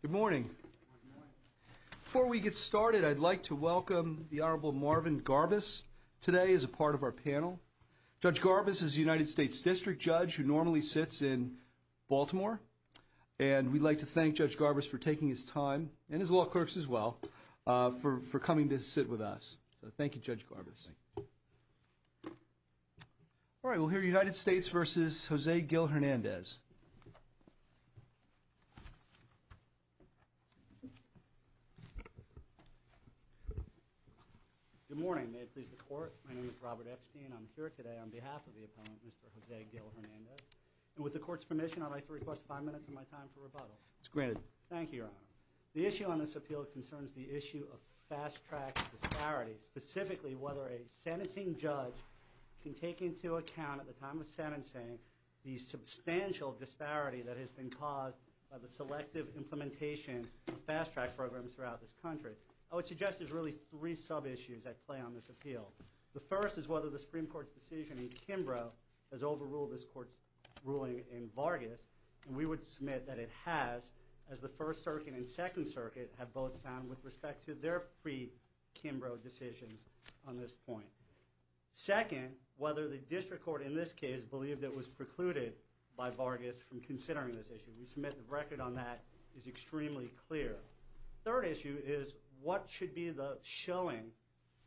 Good morning. Before we get started, I'd like to welcome the Honorable Marvin Garbus today as a part of our panel. Judge Garbus is a United States District Judge who normally sits in Baltimore. And we'd like to thank Judge Garbus for taking his time and his law clerks as well for coming to sit with us. Thank you, Judge Garbus. All right. We'll hear United States v. Jose Gil-Hernandez. Good morning. May it please the Court. My name is Robert Epstein. I'm here today on behalf of the opponent, Mr. Jose Gil-Hernandez. And with the Court's permission, I'd like to request five minutes of my time for rebuttal. Thank you, Your Honor. The issue on this appeal concerns the issue of fast-track disparities, specifically whether a sentencing judge can take into account at the time of sentencing the substantial disparity that has been caused by the selective implementation of fast-track programs throughout this country. I would suggest there's really three sub-issues at play on this appeal. The first is whether the Supreme Court's decision in Kimbrough has overruled this Court's ruling in Vargas. And we would submit that it has, as the First Circuit and Second Circuit have both found with respect to their pre-Kimbrough decisions on this point. Second, whether the District Court in this case believed it was precluded by Vargas from considering this issue. We submit the record on that is extremely clear. Third issue is what should be the showing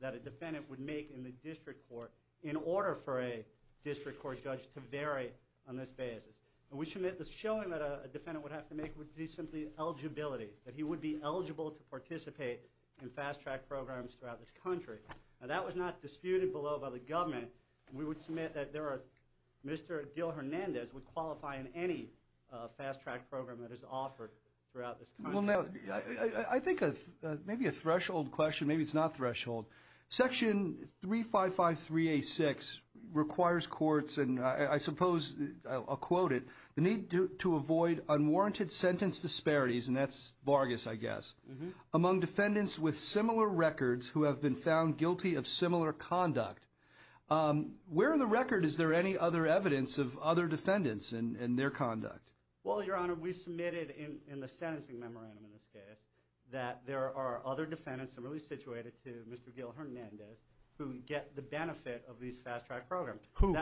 that a defendant would make in the District Court in order for a District Court judge to vary on this basis. And we submit the showing that a defendant would have to make would be simply eligibility, that he would be eligible to participate in fast-track programs throughout this country. Now, that was not disputed below by the government. We would submit that Mr. Gil Hernandez would qualify in any fast-track program that is offered throughout this country. Well, now, I think maybe a threshold question, maybe it's not threshold. Section 3553A6 requires courts, and I suppose I'll quote it, the need to avoid unwarranted sentence disparities, and that's Vargas, I guess, among defendants with similar records who have been found guilty of similar conduct. Where in the record is there any other evidence of other defendants and their conduct? Well, Your Honor, we submitted in the sentencing memorandum in this case that there are other defendants similarly situated to Mr. Gil Hernandez who get the benefit of these fast-track programs. Who?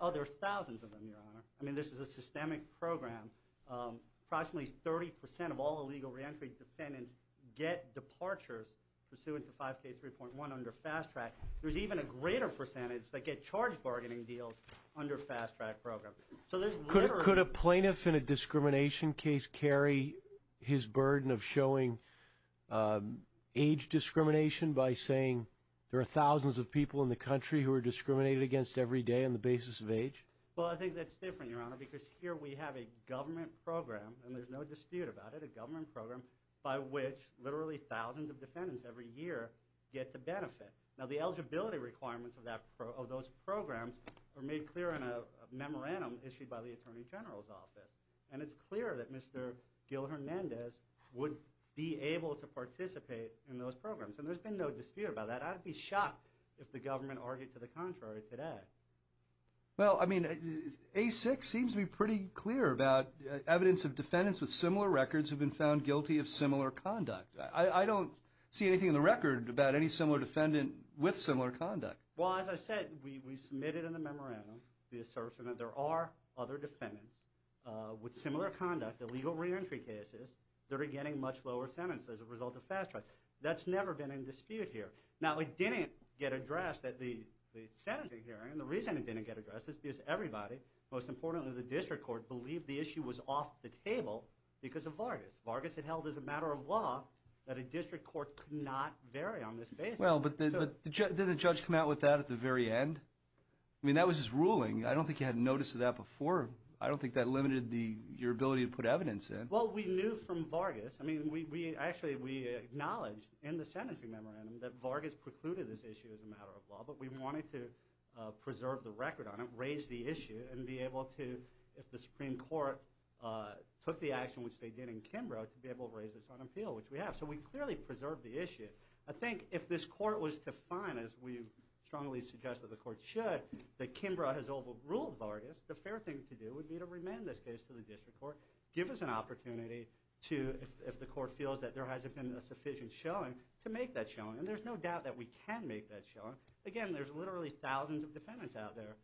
Oh, there are thousands of them, Your Honor. I mean, this is a systemic program. Approximately 30 percent of all illegal reentry defendants get departures pursuant to 5K3.1 under fast-track. There's even a greater percentage that get charge bargaining deals under fast-track programs. Could a plaintiff in a discrimination case carry his burden of showing age discrimination by saying there are thousands of people in the country who are discriminated against every day on the basis of age? Well, I think that's different, Your Honor, because here we have a government program, and there's no dispute about it, a government program by which literally thousands of defendants every year get the benefit. Now, the eligibility requirements of those programs are made clear in a memorandum issued by the Attorney General's office, and it's clear that Mr. Gil Hernandez would be able to participate in those programs, and there's been no dispute about that. I'd be shocked if the government argued to the contrary today. Well, I mean, A6 seems to be pretty clear about evidence of defendants with similar records who have been found guilty of similar conduct. I don't see anything in the record about any similar defendant with similar conduct. Well, as I said, we submitted in the memorandum the assertion that there are other defendants with similar conduct, illegal reentry cases, that are getting much lower sentences as a result of fast-track. That's never been in dispute here. Now, it didn't get addressed at the sentencing hearing. The reason it didn't get addressed is because everybody, most importantly the district court, believed the issue was off the table because of Vargas. Vargas had held as a matter of law that a district court could not vary on this basis. Well, but didn't the judge come out with that at the very end? I mean, that was his ruling. I don't think he had notice of that before. I don't think that limited your ability to put evidence in. Well, we knew from Vargas. I mean, actually, we acknowledged in the sentencing memorandum that Vargas precluded this issue as a matter of law, but we wanted to preserve the record on it, raise the issue, and be able to, if the Supreme Court took the action which they did in Kimbrough, to be able to raise this on appeal, which we have. So we clearly preserved the issue. I think if this court was to find, as we strongly suggest that the court should, that Kimbrough has overruled Vargas, the fair thing to do would be to remand this case to the district court, give us an opportunity to, if the court feels that there hasn't been a sufficient showing, to make that showing. And there's no doubt that we can make that showing. Again, there's literally thousands of defendants out there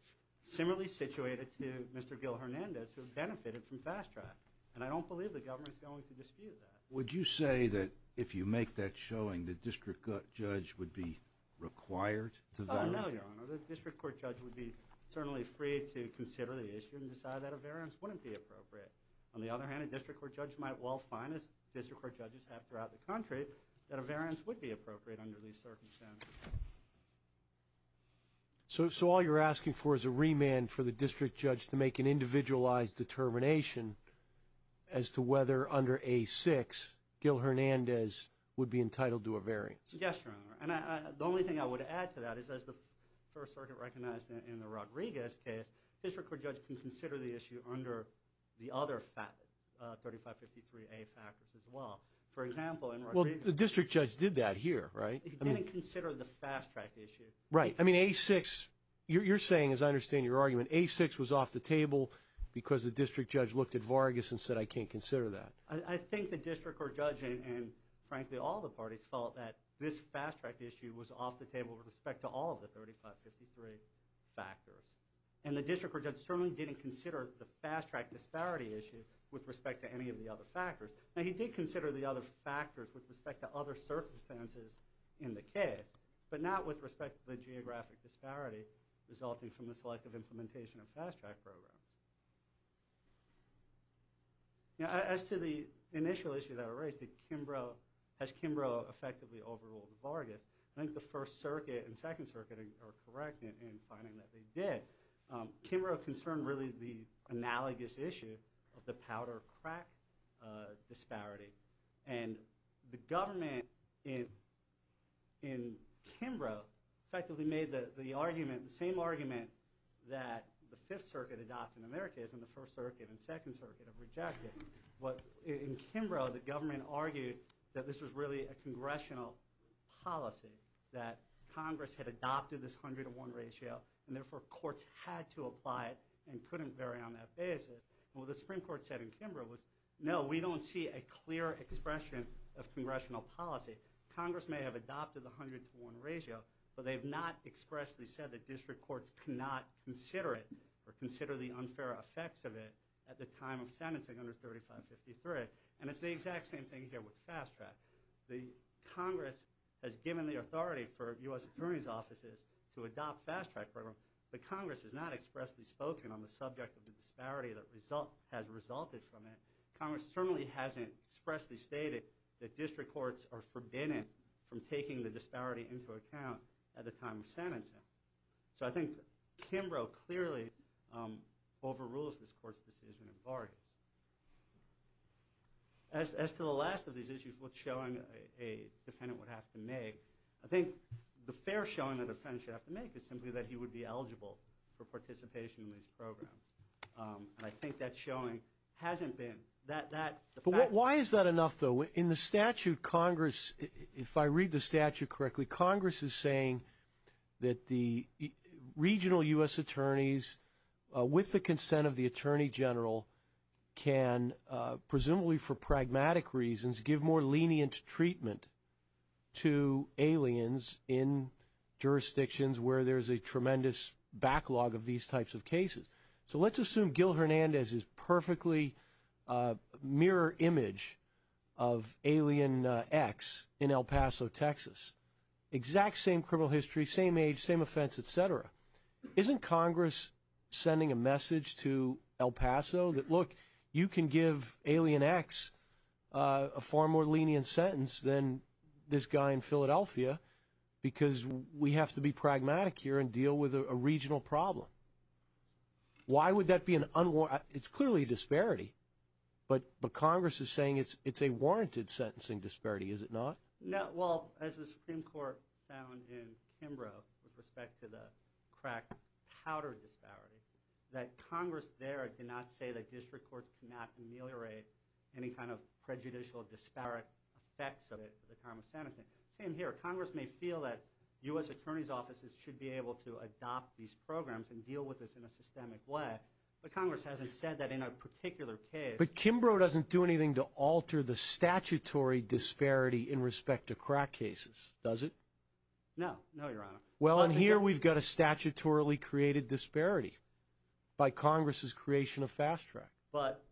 similarly situated to Mr. Gil Hernandez who have benefited from fast track. And I don't believe the government is going to dispute that. Would you say that if you make that showing, the district judge would be required to vary? No, Your Honor. The district court judge would be certainly free to consider the issue and decide that a variance wouldn't be appropriate. On the other hand, a district court judge might well find, as district court judges have throughout the country, that a variance would be appropriate under these circumstances. So all you're asking for is a remand for the district judge to make an individualized determination as to whether under A-6 Gil Hernandez would be entitled to a variance? Yes, Your Honor. And the only thing I would add to that is as the first circuit recognized in the Rodriguez case, district court judge can consider the issue under the other 3553A factors as well. For example, in Rodriguez. Well, the district judge did that here, right? He didn't consider the fast track issue. Right. I mean, A-6. You're saying, as I understand your argument, A-6 was off the table because the district judge looked at Vargas and said, I can't consider that. I think the district court judge and, frankly, all the parties felt that this fast track issue was off the table with respect to all of the 3553 factors. And the district court judge certainly didn't consider the fast track disparity issue with respect to any of the other factors. Now, he did consider the other factors with respect to other circumstances in the case, but not with respect to the geographic disparity resulting from the selective implementation of fast track programs. As to the initial issue that I raised, has Kimbrough effectively overruled Vargas? I think the first circuit and second circuit are correct in finding that they did. But Kimbrough concerned really the analogous issue of the powder crack disparity. And the government in Kimbrough effectively made the argument, the same argument, that the Fifth Circuit adopted in America as in the First Circuit and Second Circuit have rejected. But in Kimbrough, the government argued that this was really a congressional policy, that Congress had adopted this 100 to 1 ratio and, therefore, courts had to apply it and couldn't vary on that basis. And what the Supreme Court said in Kimbrough was, no, we don't see a clear expression of congressional policy. Congress may have adopted the 100 to 1 ratio, but they have not expressly said that district courts cannot consider it or consider the unfair effects of it at the time of sentencing under 3553. And it's the exact same thing here with fast track. Congress has given the authority for U.S. Attorney's Offices to adopt fast track programs, but Congress has not expressly spoken on the subject of the disparity that has resulted from it. Congress certainly hasn't expressly stated that district courts are forbidden from taking the disparity into account at the time of sentencing. So I think Kimbrough clearly overrules this court's decision in Vargas. As to the last of these issues, what showing a defendant would have to make, I think the fair showing that a defendant should have to make is simply that he would be eligible for participation in these programs. And I think that showing hasn't been. But why is that enough, though? In the statute, Congress, if I read the statute correctly, Congress is saying that the regional U.S. attorneys, with the consent of the attorney general, can presumably for pragmatic reasons give more lenient treatment to aliens in jurisdictions where there is a tremendous backlog of these types of cases. So let's assume Gil Hernandez is perfectly mirror image of Alien X in El Paso, Texas. Exact same criminal history, same age, same offense, etc. Isn't Congress sending a message to El Paso that, look, you can give Alien X a far more lenient sentence than this guy in Philadelphia because we have to be pragmatic here and deal with a regional problem? Why would that be an unwarranted? It's clearly a disparity. But Congress is saying it's a warranted sentencing disparity, is it not? No. Well, as the Supreme Court found in Kimbrough with respect to the crack powder disparity, that Congress there did not say that district courts cannot ameliorate any kind of prejudicial disparate effects of it for the time of sentencing. Same here. Congress may feel that U.S. attorney's offices should be able to adopt these programs and deal with this in a systemic way, but Congress hasn't said that in a particular case. But Kimbrough doesn't do anything to alter the statutory disparity in respect to crack cases, does it? No, no, Your Honor. Well, and here we've got a statutorily created disparity by Congress's creation of Fast Track. But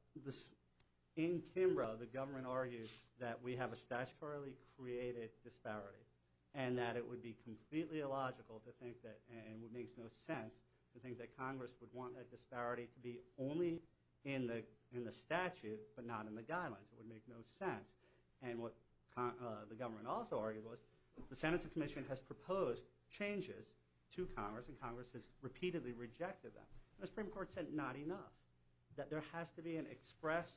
in Kimbrough, the government argues that we have a statutorily created disparity and that it would be completely illogical to think that, and it makes no sense, to think that Congress would want that disparity to be only in the statute but not in the guidelines. It would make no sense. And what the government also argued was the sentencing commission has proposed changes to Congress, and Congress has repeatedly rejected them. The Supreme Court said not enough, that there has to be an express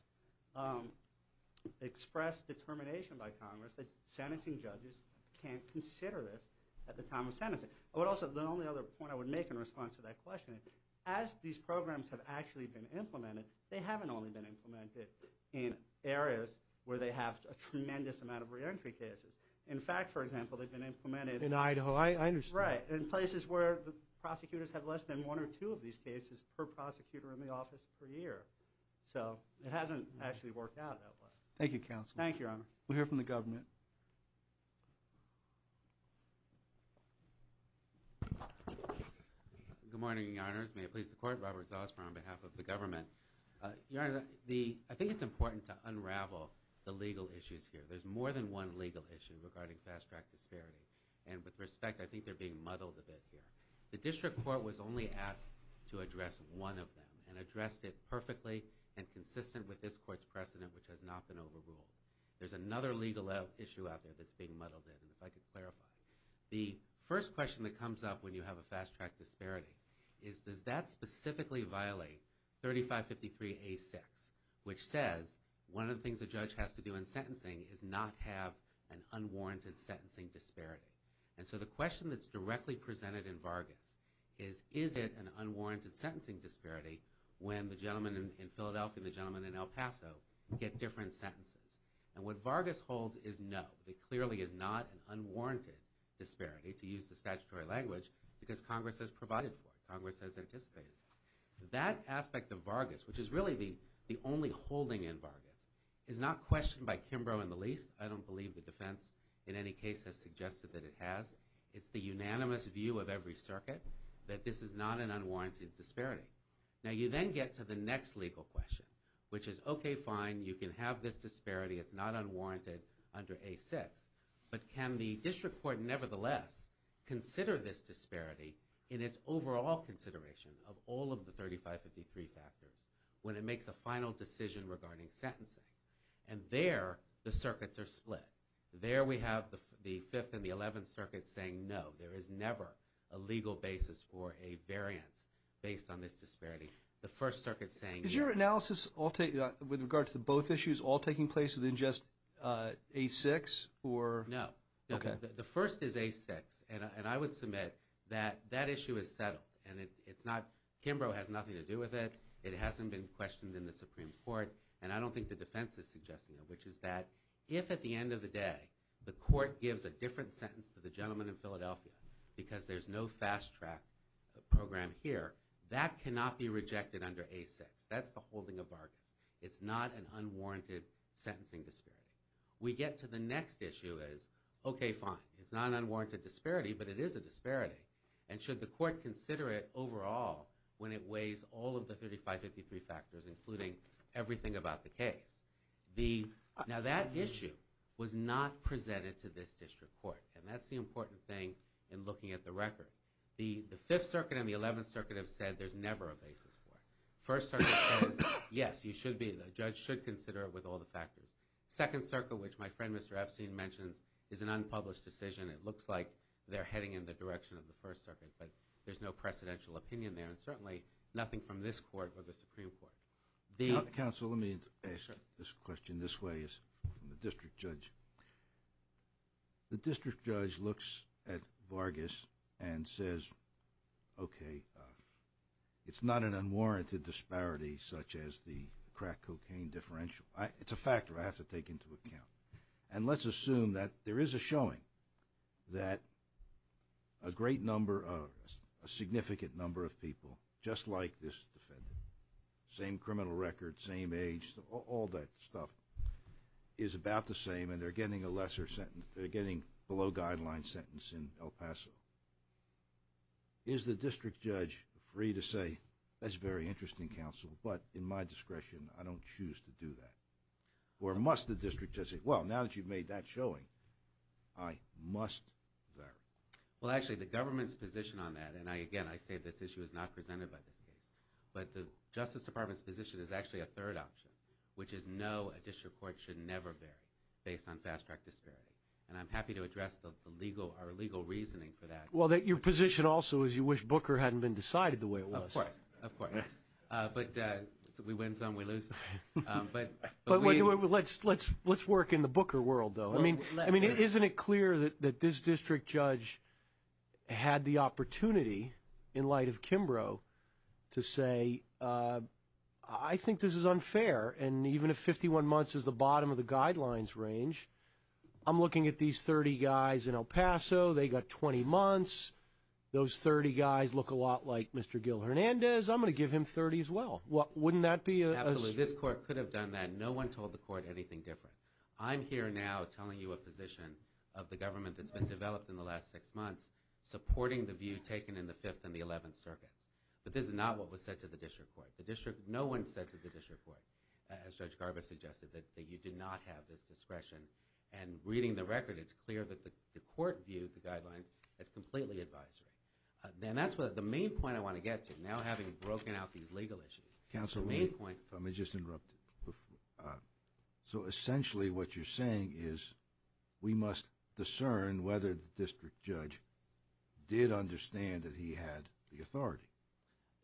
determination by Congress that sentencing judges can't consider this at the time of sentencing. I would also, the only other point I would make in response to that question, as these programs have actually been implemented, they haven't only been implemented in areas where they have a tremendous amount of reentry cases. In fact, for example, they've been implemented- In Idaho, I understand. That's right, in places where the prosecutors have less than one or two of these cases per prosecutor in the office per year. So it hasn't actually worked out that way. Thank you, counsel. Thank you, Your Honor. We'll hear from the government. Good morning, Your Honors. May it please the Court, Robert Zosmar on behalf of the government. Your Honor, I think it's important to unravel the legal issues here. There's more than one legal issue regarding Fast Track disparity, and with respect, I think they're being muddled a bit here. The District Court was only asked to address one of them and addressed it perfectly and consistent with this Court's precedent, which has not been overruled. There's another legal issue out there that's being muddled in, if I could clarify. The first question that comes up when you have a Fast Track disparity is does that specifically violate 3553A6, which says one of the things a judge has to do in sentencing is not have an unwarranted sentencing disparity. And so the question that's directly presented in Vargas is is it an unwarranted sentencing disparity when the gentleman in Philadelphia and the gentleman in El Paso get different sentences. And what Vargas holds is no. There clearly is not an unwarranted disparity, to use the statutory language, because Congress has provided for it. Congress has anticipated it. That aspect of Vargas, which is really the only holding in Vargas, is not questioned by Kimbrough in the least. I don't believe the defense in any case has suggested that it has. It's the unanimous view of every circuit that this is not an unwarranted disparity. Now, you then get to the next legal question, which is, okay, fine, you can have this disparity. It's not unwarranted under A6. But can the District Court nevertheless consider this disparity in its overall consideration of all of the 3553 factors when it makes a final decision regarding sentencing? And there the circuits are split. There we have the Fifth and the Eleventh Circuit saying no. There is never a legal basis for a variance based on this disparity. The First Circuit's saying no. Is your analysis with regard to both issues all taking place within just A6? No. Okay. The first is A6, and I would submit that that issue is settled, and it's not Kimbrough has nothing to do with it. It hasn't been questioned in the Supreme Court, and I don't think the defense is suggesting it, which is that if at the end of the day the court gives a different sentence to the gentleman in Philadelphia because there's no fast track program here, that cannot be rejected under A6. That's the holding of bargains. It's not an unwarranted sentencing disparity. We get to the next issue is, okay, fine, it's not an unwarranted disparity, but it is a disparity. And should the court consider it overall when it weighs all of the 3553 factors, including everything about the case? Now, that issue was not presented to this district court, and that's the important thing in looking at the record. The Fifth Circuit and the Eleventh Circuit have said there's never a basis for it. First Circuit says, yes, you should be. The judge should consider it with all the factors. Second Circuit, which my friend Mr. Epstein mentions, is an unpublished decision. It looks like they're heading in the direction of the First Circuit, but there's no precedential opinion there, and certainly nothing from this court or the Supreme Court. Counsel, let me ask this question this way from the district judge. The district judge looks at Vargas and says, okay, it's not an unwarranted disparity such as the crack cocaine differential. It's a factor I have to take into account. And let's assume that there is a showing that a great number of a significant number of people just like this defendant, same criminal record, same age, all that stuff is about the same and they're getting a lesser sentence. They're getting below guideline sentence in El Paso. Is the district judge free to say, that's very interesting, counsel, but in my discretion I don't choose to do that? Or must the district judge say, well, now that you've made that showing, I must vary? Well, actually, the government's position on that, and again, I say this issue is not presented by this case, but the Justice Department's position is actually a third option, which is no, a district court should never vary based on fast-track disparity. And I'm happy to address our legal reasoning for that. Well, your position also is you wish Booker hadn't been decided the way it was. Of course, of course. But we win some, we lose some. But let's work in the Booker world, though. I mean, isn't it clear that this district judge had the opportunity, in light of Kimbrough, to say, I think this is unfair, and even if 51 months is the bottom of the guidelines range, I'm looking at these 30 guys in El Paso, they got 20 months, those 30 guys look a lot like Mr. Gil Hernandez, I'm going to give him 30 as well. Wouldn't that be a? Absolutely. This court could have done that. No one told the court anything different. I'm here now telling you a position of the government that's been developed in the last six months, supporting the view taken in the Fifth and the Eleventh Circuits. But this is not what was said to the district court. No one said to the district court, as Judge Garba suggested, that you did not have this discretion. And reading the record, it's clear that the court viewed the guidelines as completely advisory. And that's the main point I want to get to, now having broken out these legal issues. Counsel, let me just interrupt you. So essentially what you're saying is we must discern whether the district judge did understand that he had the authority.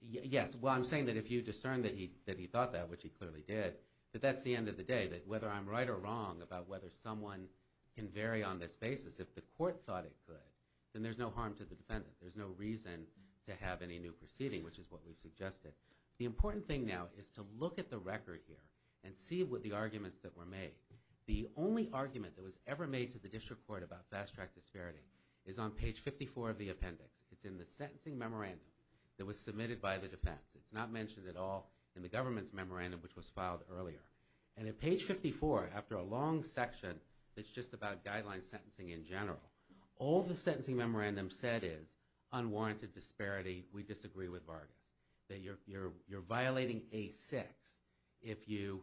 Yes, well, I'm saying that if you discern that he thought that, which he clearly did, that that's the end of the day, that whether I'm right or wrong about whether someone can vary on this basis, if the court thought it could, then there's no harm to the defendant. There's no reason to have any new proceeding, which is what we've suggested. The important thing now is to look at the record here and see what the arguments that were made. The only argument that was ever made to the district court about fast-track disparity is on page 54 of the appendix. It's in the sentencing memorandum that was submitted by the defense. It's not mentioned at all in the government's memorandum, which was filed earlier. And at page 54, after a long section that's just about guideline sentencing in general, all the sentencing memorandum said is unwarranted disparity, we disagree with Vargas, that you're violating A6 if you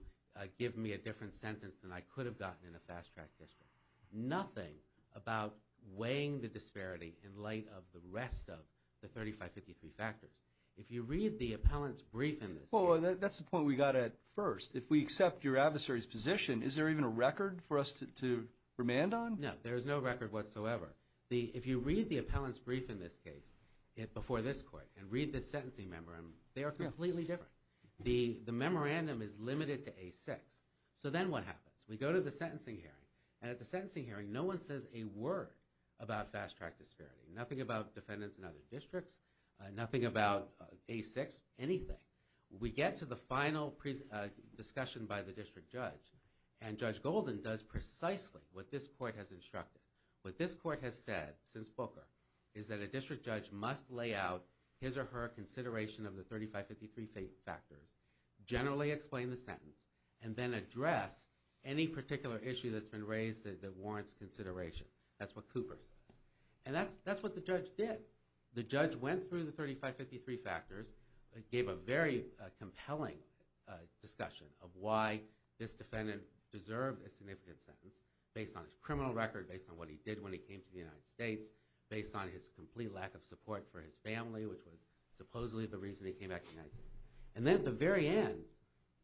give me a different sentence than I could have gotten in a fast-track district. Nothing about weighing the disparity in light of the rest of the 3553 factors. If you read the appellant's brief in this case... Except your adversary's position, is there even a record for us to remand on? No, there is no record whatsoever. If you read the appellant's brief in this case before this court and read the sentencing memorandum, they are completely different. The memorandum is limited to A6. So then what happens? We go to the sentencing hearing, and at the sentencing hearing, no one says a word about fast-track disparity. Nothing about defendants in other districts, nothing about A6, anything. We get to the final discussion by the district judge, and Judge Golden does precisely what this court has instructed. What this court has said, since Booker, is that a district judge must lay out his or her consideration of the 3553 factors, generally explain the sentence, and then address any particular issue that's been raised that warrants consideration. That's what Cooper says. And that's what the judge did. The judge went through the 3553 factors, gave a very compelling discussion of why this defendant deserved a significant sentence, based on his criminal record, based on what he did when he came to the United States, based on his complete lack of support for his family, which was supposedly the reason he came back to the United States. And then at the very end,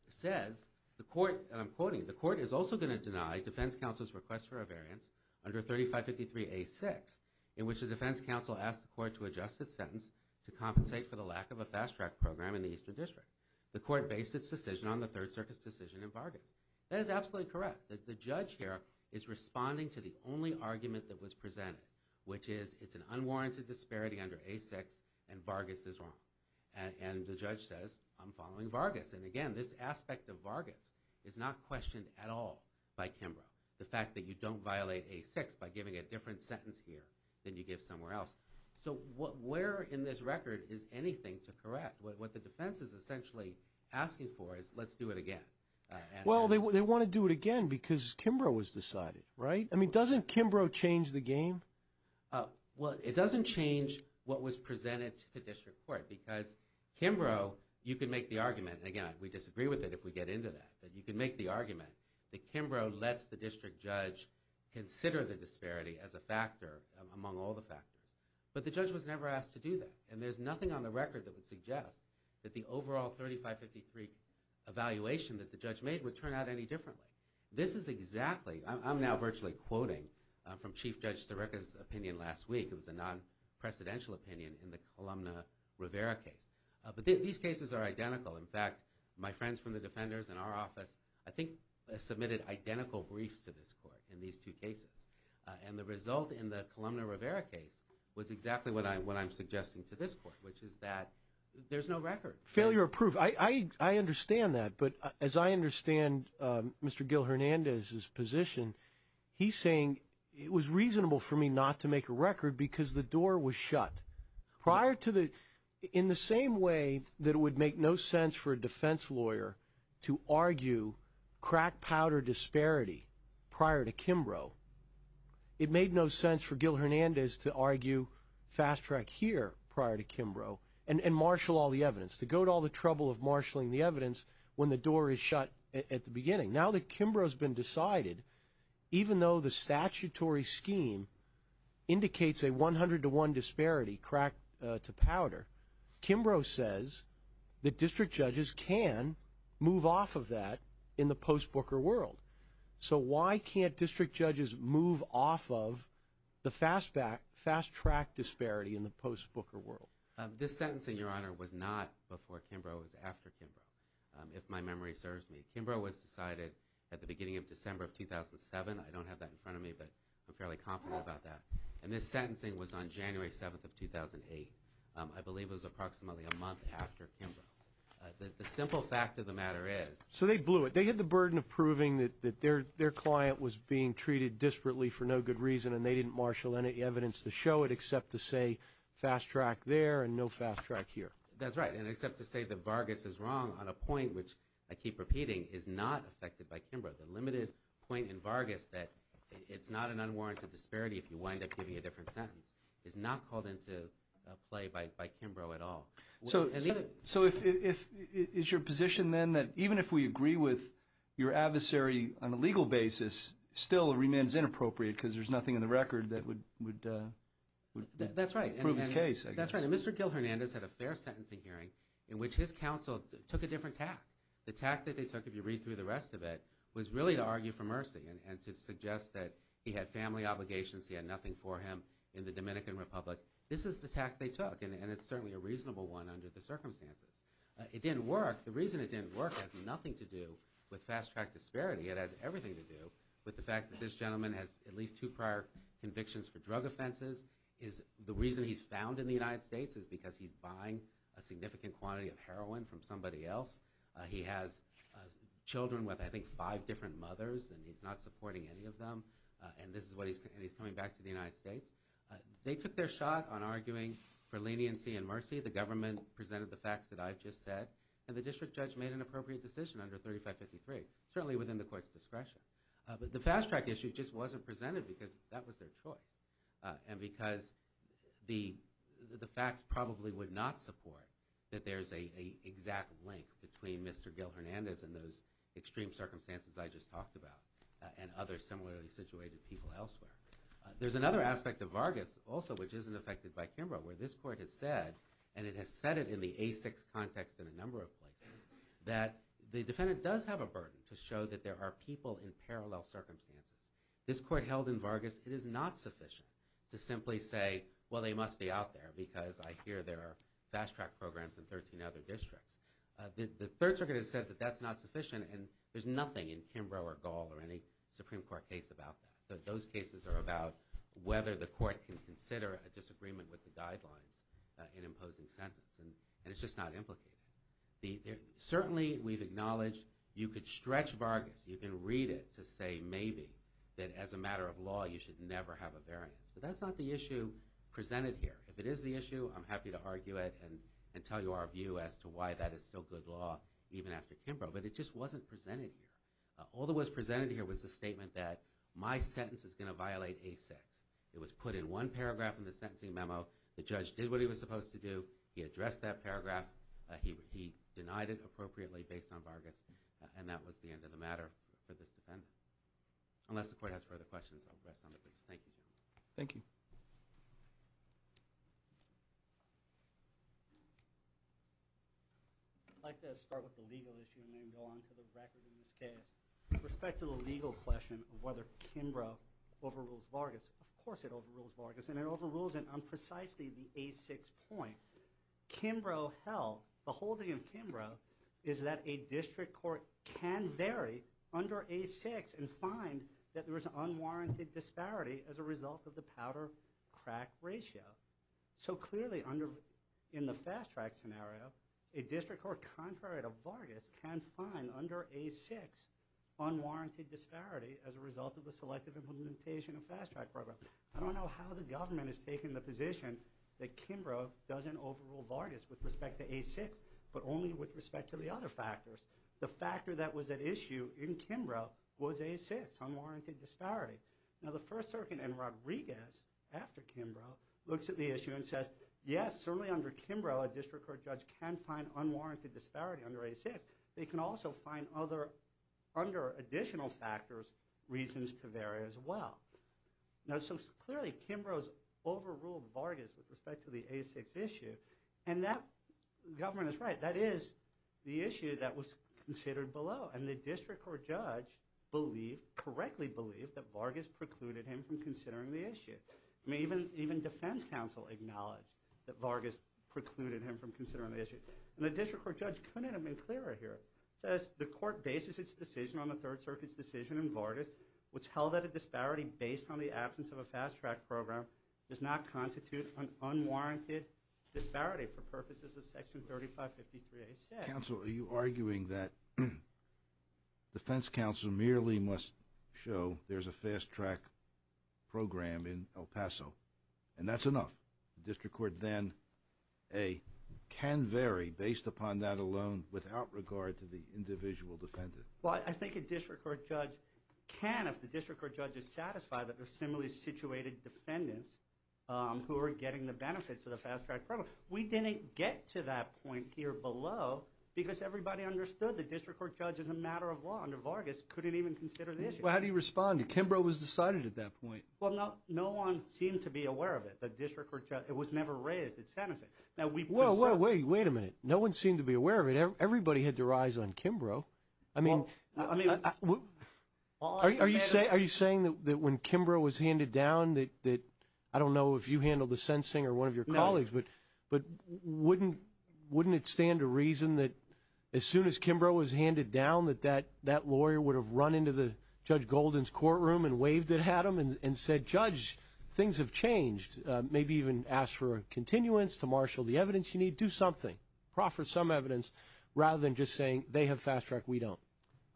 it says, and I'm quoting, the court is also going to deny defense counsel's request for a variance under 3553A6, in which the defense counsel asked the court to adjust its sentence to compensate for the lack of a fast-track program in the Eastern District. The court based its decision on the Third Circuit's decision in Vargas. That is absolutely correct. The judge here is responding to the only argument that was presented, which is it's an unwarranted disparity under A6, and Vargas is wrong. And the judge says, I'm following Vargas. And again, this aspect of Vargas is not questioned at all by Kimbrough. The fact that you don't violate A6 by giving a different sentence here than you give somewhere else. So where in this record is anything to correct? What the defense is essentially asking for is let's do it again. Well, they want to do it again because Kimbrough was decided, right? I mean, doesn't Kimbrough change the game? Well, it doesn't change what was presented to the District Court, because Kimbrough, you can make the argument, and again, we disagree with it if we get into that, but you can make the argument that Kimbrough lets the district judge consider the disparity as a factor among all the factors. But the judge was never asked to do that, and there's nothing on the record that would suggest that the overall 3553 evaluation that the judge made would turn out any differently. This is exactly, I'm now virtually quoting from Chief Judge Staricka's opinion last week. It was a non-presidential opinion in the Columna Rivera case. But these cases are identical. In fact, my friends from the defenders in our office I think submitted identical briefs to this court in these two cases. And the result in the Columna Rivera case was exactly what I'm suggesting to this court, which is that there's no record. Failure of proof. I understand that, but as I understand Mr. Gil Hernandez's position, he's saying it was reasonable for me not to make a record because the door was shut. In the same way that it would make no sense for a defense lawyer to argue crack powder disparity prior to Kimbrough, it made no sense for Gil Hernandez to argue fast track here prior to Kimbrough and marshal all the evidence, to go to all the trouble of marshaling the evidence when the door is shut at the beginning. Now that Kimbrough has been decided, even though the statutory scheme indicates a 100 to 1 disparity crack to powder, Kimbrough says that district judges can move off of that in the post-Booker world. So why can't district judges move off of the fast track disparity in the post-Booker world? This sentence, Your Honor, was not before Kimbrough. It was after Kimbrough, if my memory serves me. Kimbrough was decided at the beginning of December of 2007. I don't have that in front of me, but I'm fairly confident about that. And this sentencing was on January 7th of 2008. I believe it was approximately a month after Kimbrough. The simple fact of the matter is. So they blew it. They had the burden of proving that their client was being treated disparately for no good reason, and they didn't marshal any evidence to show it except to say fast track there and no fast track here. That's right. And except to say that Vargas is wrong on a point, which I keep repeating, is not affected by Kimbrough. The limited point in Vargas that it's not an unwarranted disparity if you wind up giving a different sentence is not called into play by Kimbrough at all. So is your position then that even if we agree with your adversary on a legal basis, still it remains inappropriate because there's nothing in the record that would prove his case? That's right. So Mr. Gil Hernandez had a fair sentencing hearing in which his counsel took a different tact. The tact that they took, if you read through the rest of it, was really to argue for mercy and to suggest that he had family obligations, he had nothing for him in the Dominican Republic. This is the tact they took, and it's certainly a reasonable one under the circumstances. It didn't work. The reason it didn't work has nothing to do with fast track disparity. It has everything to do with the fact that this gentleman has at least two prior convictions for drug offenses. The reason he's found in the United States is because he's buying a significant quantity of heroin from somebody else. He has children with, I think, five different mothers, and he's not supporting any of them, and he's coming back to the United States. They took their shot on arguing for leniency and mercy. The government presented the facts that I've just said, and the district judge made an appropriate decision under 3553, certainly within the court's discretion. But the fast track issue just wasn't presented because that was their choice and because the facts probably would not support that there's an exact link between Mr. Gil Hernandez and those extreme circumstances I just talked about and other similarly situated people elsewhere. There's another aspect of Vargas also which isn't affected by Kimbrough, where this court has said, and it has said it in the A6 context in a number of places, that the defendant does have a burden to show that there are people in parallel circumstances. This court held in Vargas, it is not sufficient to simply say, well, they must be out there because I hear there are fast track programs in 13 other districts. The Third Circuit has said that that's not sufficient, and there's nothing in Kimbrough or Gall or any Supreme Court case about that. Those cases are about whether the court can consider a disagreement with the guidelines in imposing sentence, and it's just not implicated. Certainly we've acknowledged you could stretch Vargas. You can read it to say maybe that as a matter of law you should never have a variance. But that's not the issue presented here. If it is the issue, I'm happy to argue it and tell you our view as to why that is still good law even after Kimbrough. But it just wasn't presented here. All that was presented here was the statement that my sentence is going to violate A6. It was put in one paragraph in the sentencing memo. The judge did what he was supposed to do. He addressed that paragraph. He denied it appropriately based on Vargas, and that was the end of the matter for this defendant. Unless the court has further questions, I'll rest on the bench. Thank you, gentlemen. Thank you. I'd like to start with the legal issue and then go on to the record in this case. With respect to the legal question of whether Kimbrough overrules Vargas, of course it overrules Vargas, and it overrules it on precisely the A6 point. Kimbrough held, the holding of Kimbrough is that a district court can vary under A6 and find that there was an unwarranted disparity as a result of the powder-crack ratio. So clearly in the fast-track scenario, a district court, contrary to Vargas, can find under A6 unwarranted disparity as a result of the selective implementation of fast-track program. I don't know how the government has taken the position that Kimbrough doesn't overrule Vargas with respect to A6, but only with respect to the other factors. The factor that was at issue in Kimbrough was A6, unwarranted disparity. Now the First Circuit in Rodriguez, after Kimbrough, looks at the issue and says, yes, certainly under Kimbrough a district court judge can find unwarranted disparity under A6. They can also find other, under additional factors, reasons to vary as well. Now so clearly Kimbrough has overruled Vargas with respect to the A6 issue, and that government is right. That is the issue that was considered below, and the district court judge believed, correctly believed, that Vargas precluded him from considering the issue. I mean even defense counsel acknowledged that Vargas precluded him from considering the issue. And the district court judge couldn't have been clearer here. It says the court bases its decision on the Third Circuit's decision in Vargas, which held that a disparity based on the absence of a fast track program does not constitute an unwarranted disparity for purposes of Section 3553A6. Counsel, are you arguing that defense counsel merely must show there's a fast track program in El Paso? And that's enough. The district court then, A, can vary based upon that alone without regard to the individual defendant. Well, I think a district court judge can if the district court judge is satisfied that there's similarly situated defendants who are getting the benefits of the fast track program. We didn't get to that point here below because everybody understood the district court judge as a matter of law under Vargas couldn't even consider the issue. Well, how do you respond? Kimbrough was decided at that point. Well, no one seemed to be aware of it, the district court judge. It was never raised at sentencing. Wait a minute. No one seemed to be aware of it. Everybody had their eyes on Kimbrough. I mean, are you saying that when Kimbrough was handed down that, I don't know if you handled the sentencing or one of your colleagues, but wouldn't it stand to reason that as soon as Kimbrough was handed down that that lawyer would have run into Judge Golden's courtroom and waved at him and said, Judge, things have changed. Maybe even asked for a continuance to marshal the evidence you need. Do something. Proffer some evidence rather than just saying they have fast track, we don't.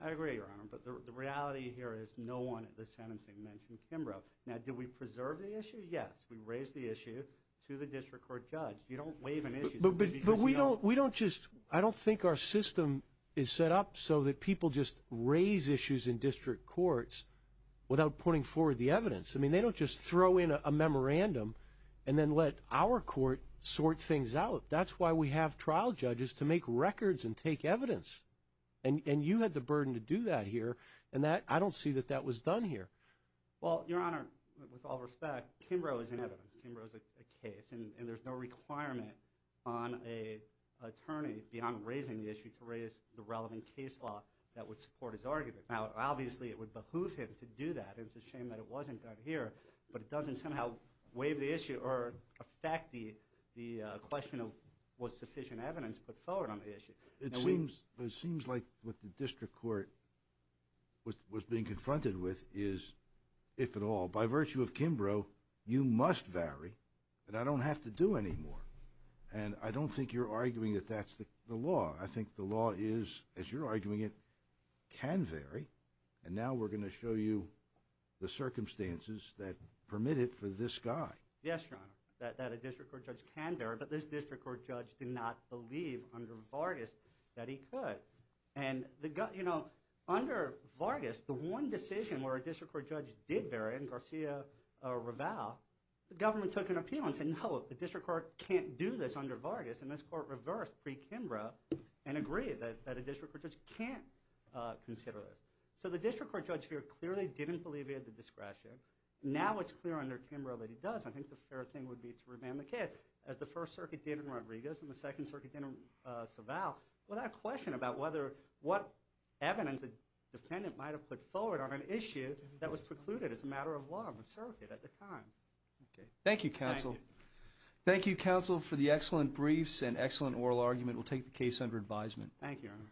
I agree, Your Honor, but the reality here is no one at the sentencing mentioned Kimbrough. Now, did we preserve the issue? Yes. We raised the issue to the district court judge. You don't wave an issue. But we don't just, I don't think our system is set up so that people just raise issues in district courts without putting forward the evidence. I mean, they don't just throw in a memorandum and then let our court sort things out. That's why we have trial judges to make records and take evidence. And you had the burden to do that here, and I don't see that that was done here. Well, Your Honor, with all respect, Kimbrough is an evidence. Kimbrough is a case, and there's no requirement on an attorney beyond raising the issue to raise the relevant case law that would support his argument. Now, obviously, it would behoove him to do that, and it's a shame that it wasn't done here, but it doesn't somehow waive the issue or affect the question of what sufficient evidence put forward on the issue. It seems like what the district court was being confronted with is, if at all, by virtue of Kimbrough, you must vary, and I don't have to do any more. And I don't think you're arguing that that's the law. I think the law is, as you're arguing it, can vary, and now we're going to show you the circumstances that permit it for this guy. Yes, Your Honor, that a district court judge can vary, but this district court judge did not believe under Vargas that he could. Under Vargas, the one decision where a district court judge did vary in Garcia-Raval, the government took an appeal and said, no, the district court can't do this under Vargas, and this court reversed pre-Kimbrough and agreed that a district court judge can't consider this. So the district court judge here clearly didn't believe he had the discretion. Now it's clear under Kimbrough that he does, and I think the fair thing would be to remand the case. As the First Circuit did in Rodriguez and the Second Circuit did in Saval, without question about what evidence the defendant might have put forward on an issue that was precluded as a matter of law in the circuit at the time. Thank you, counsel. Thank you. Thank you, counsel, for the excellent briefs and excellent oral argument. We'll take the case under advisement. Thank you, Your Honor.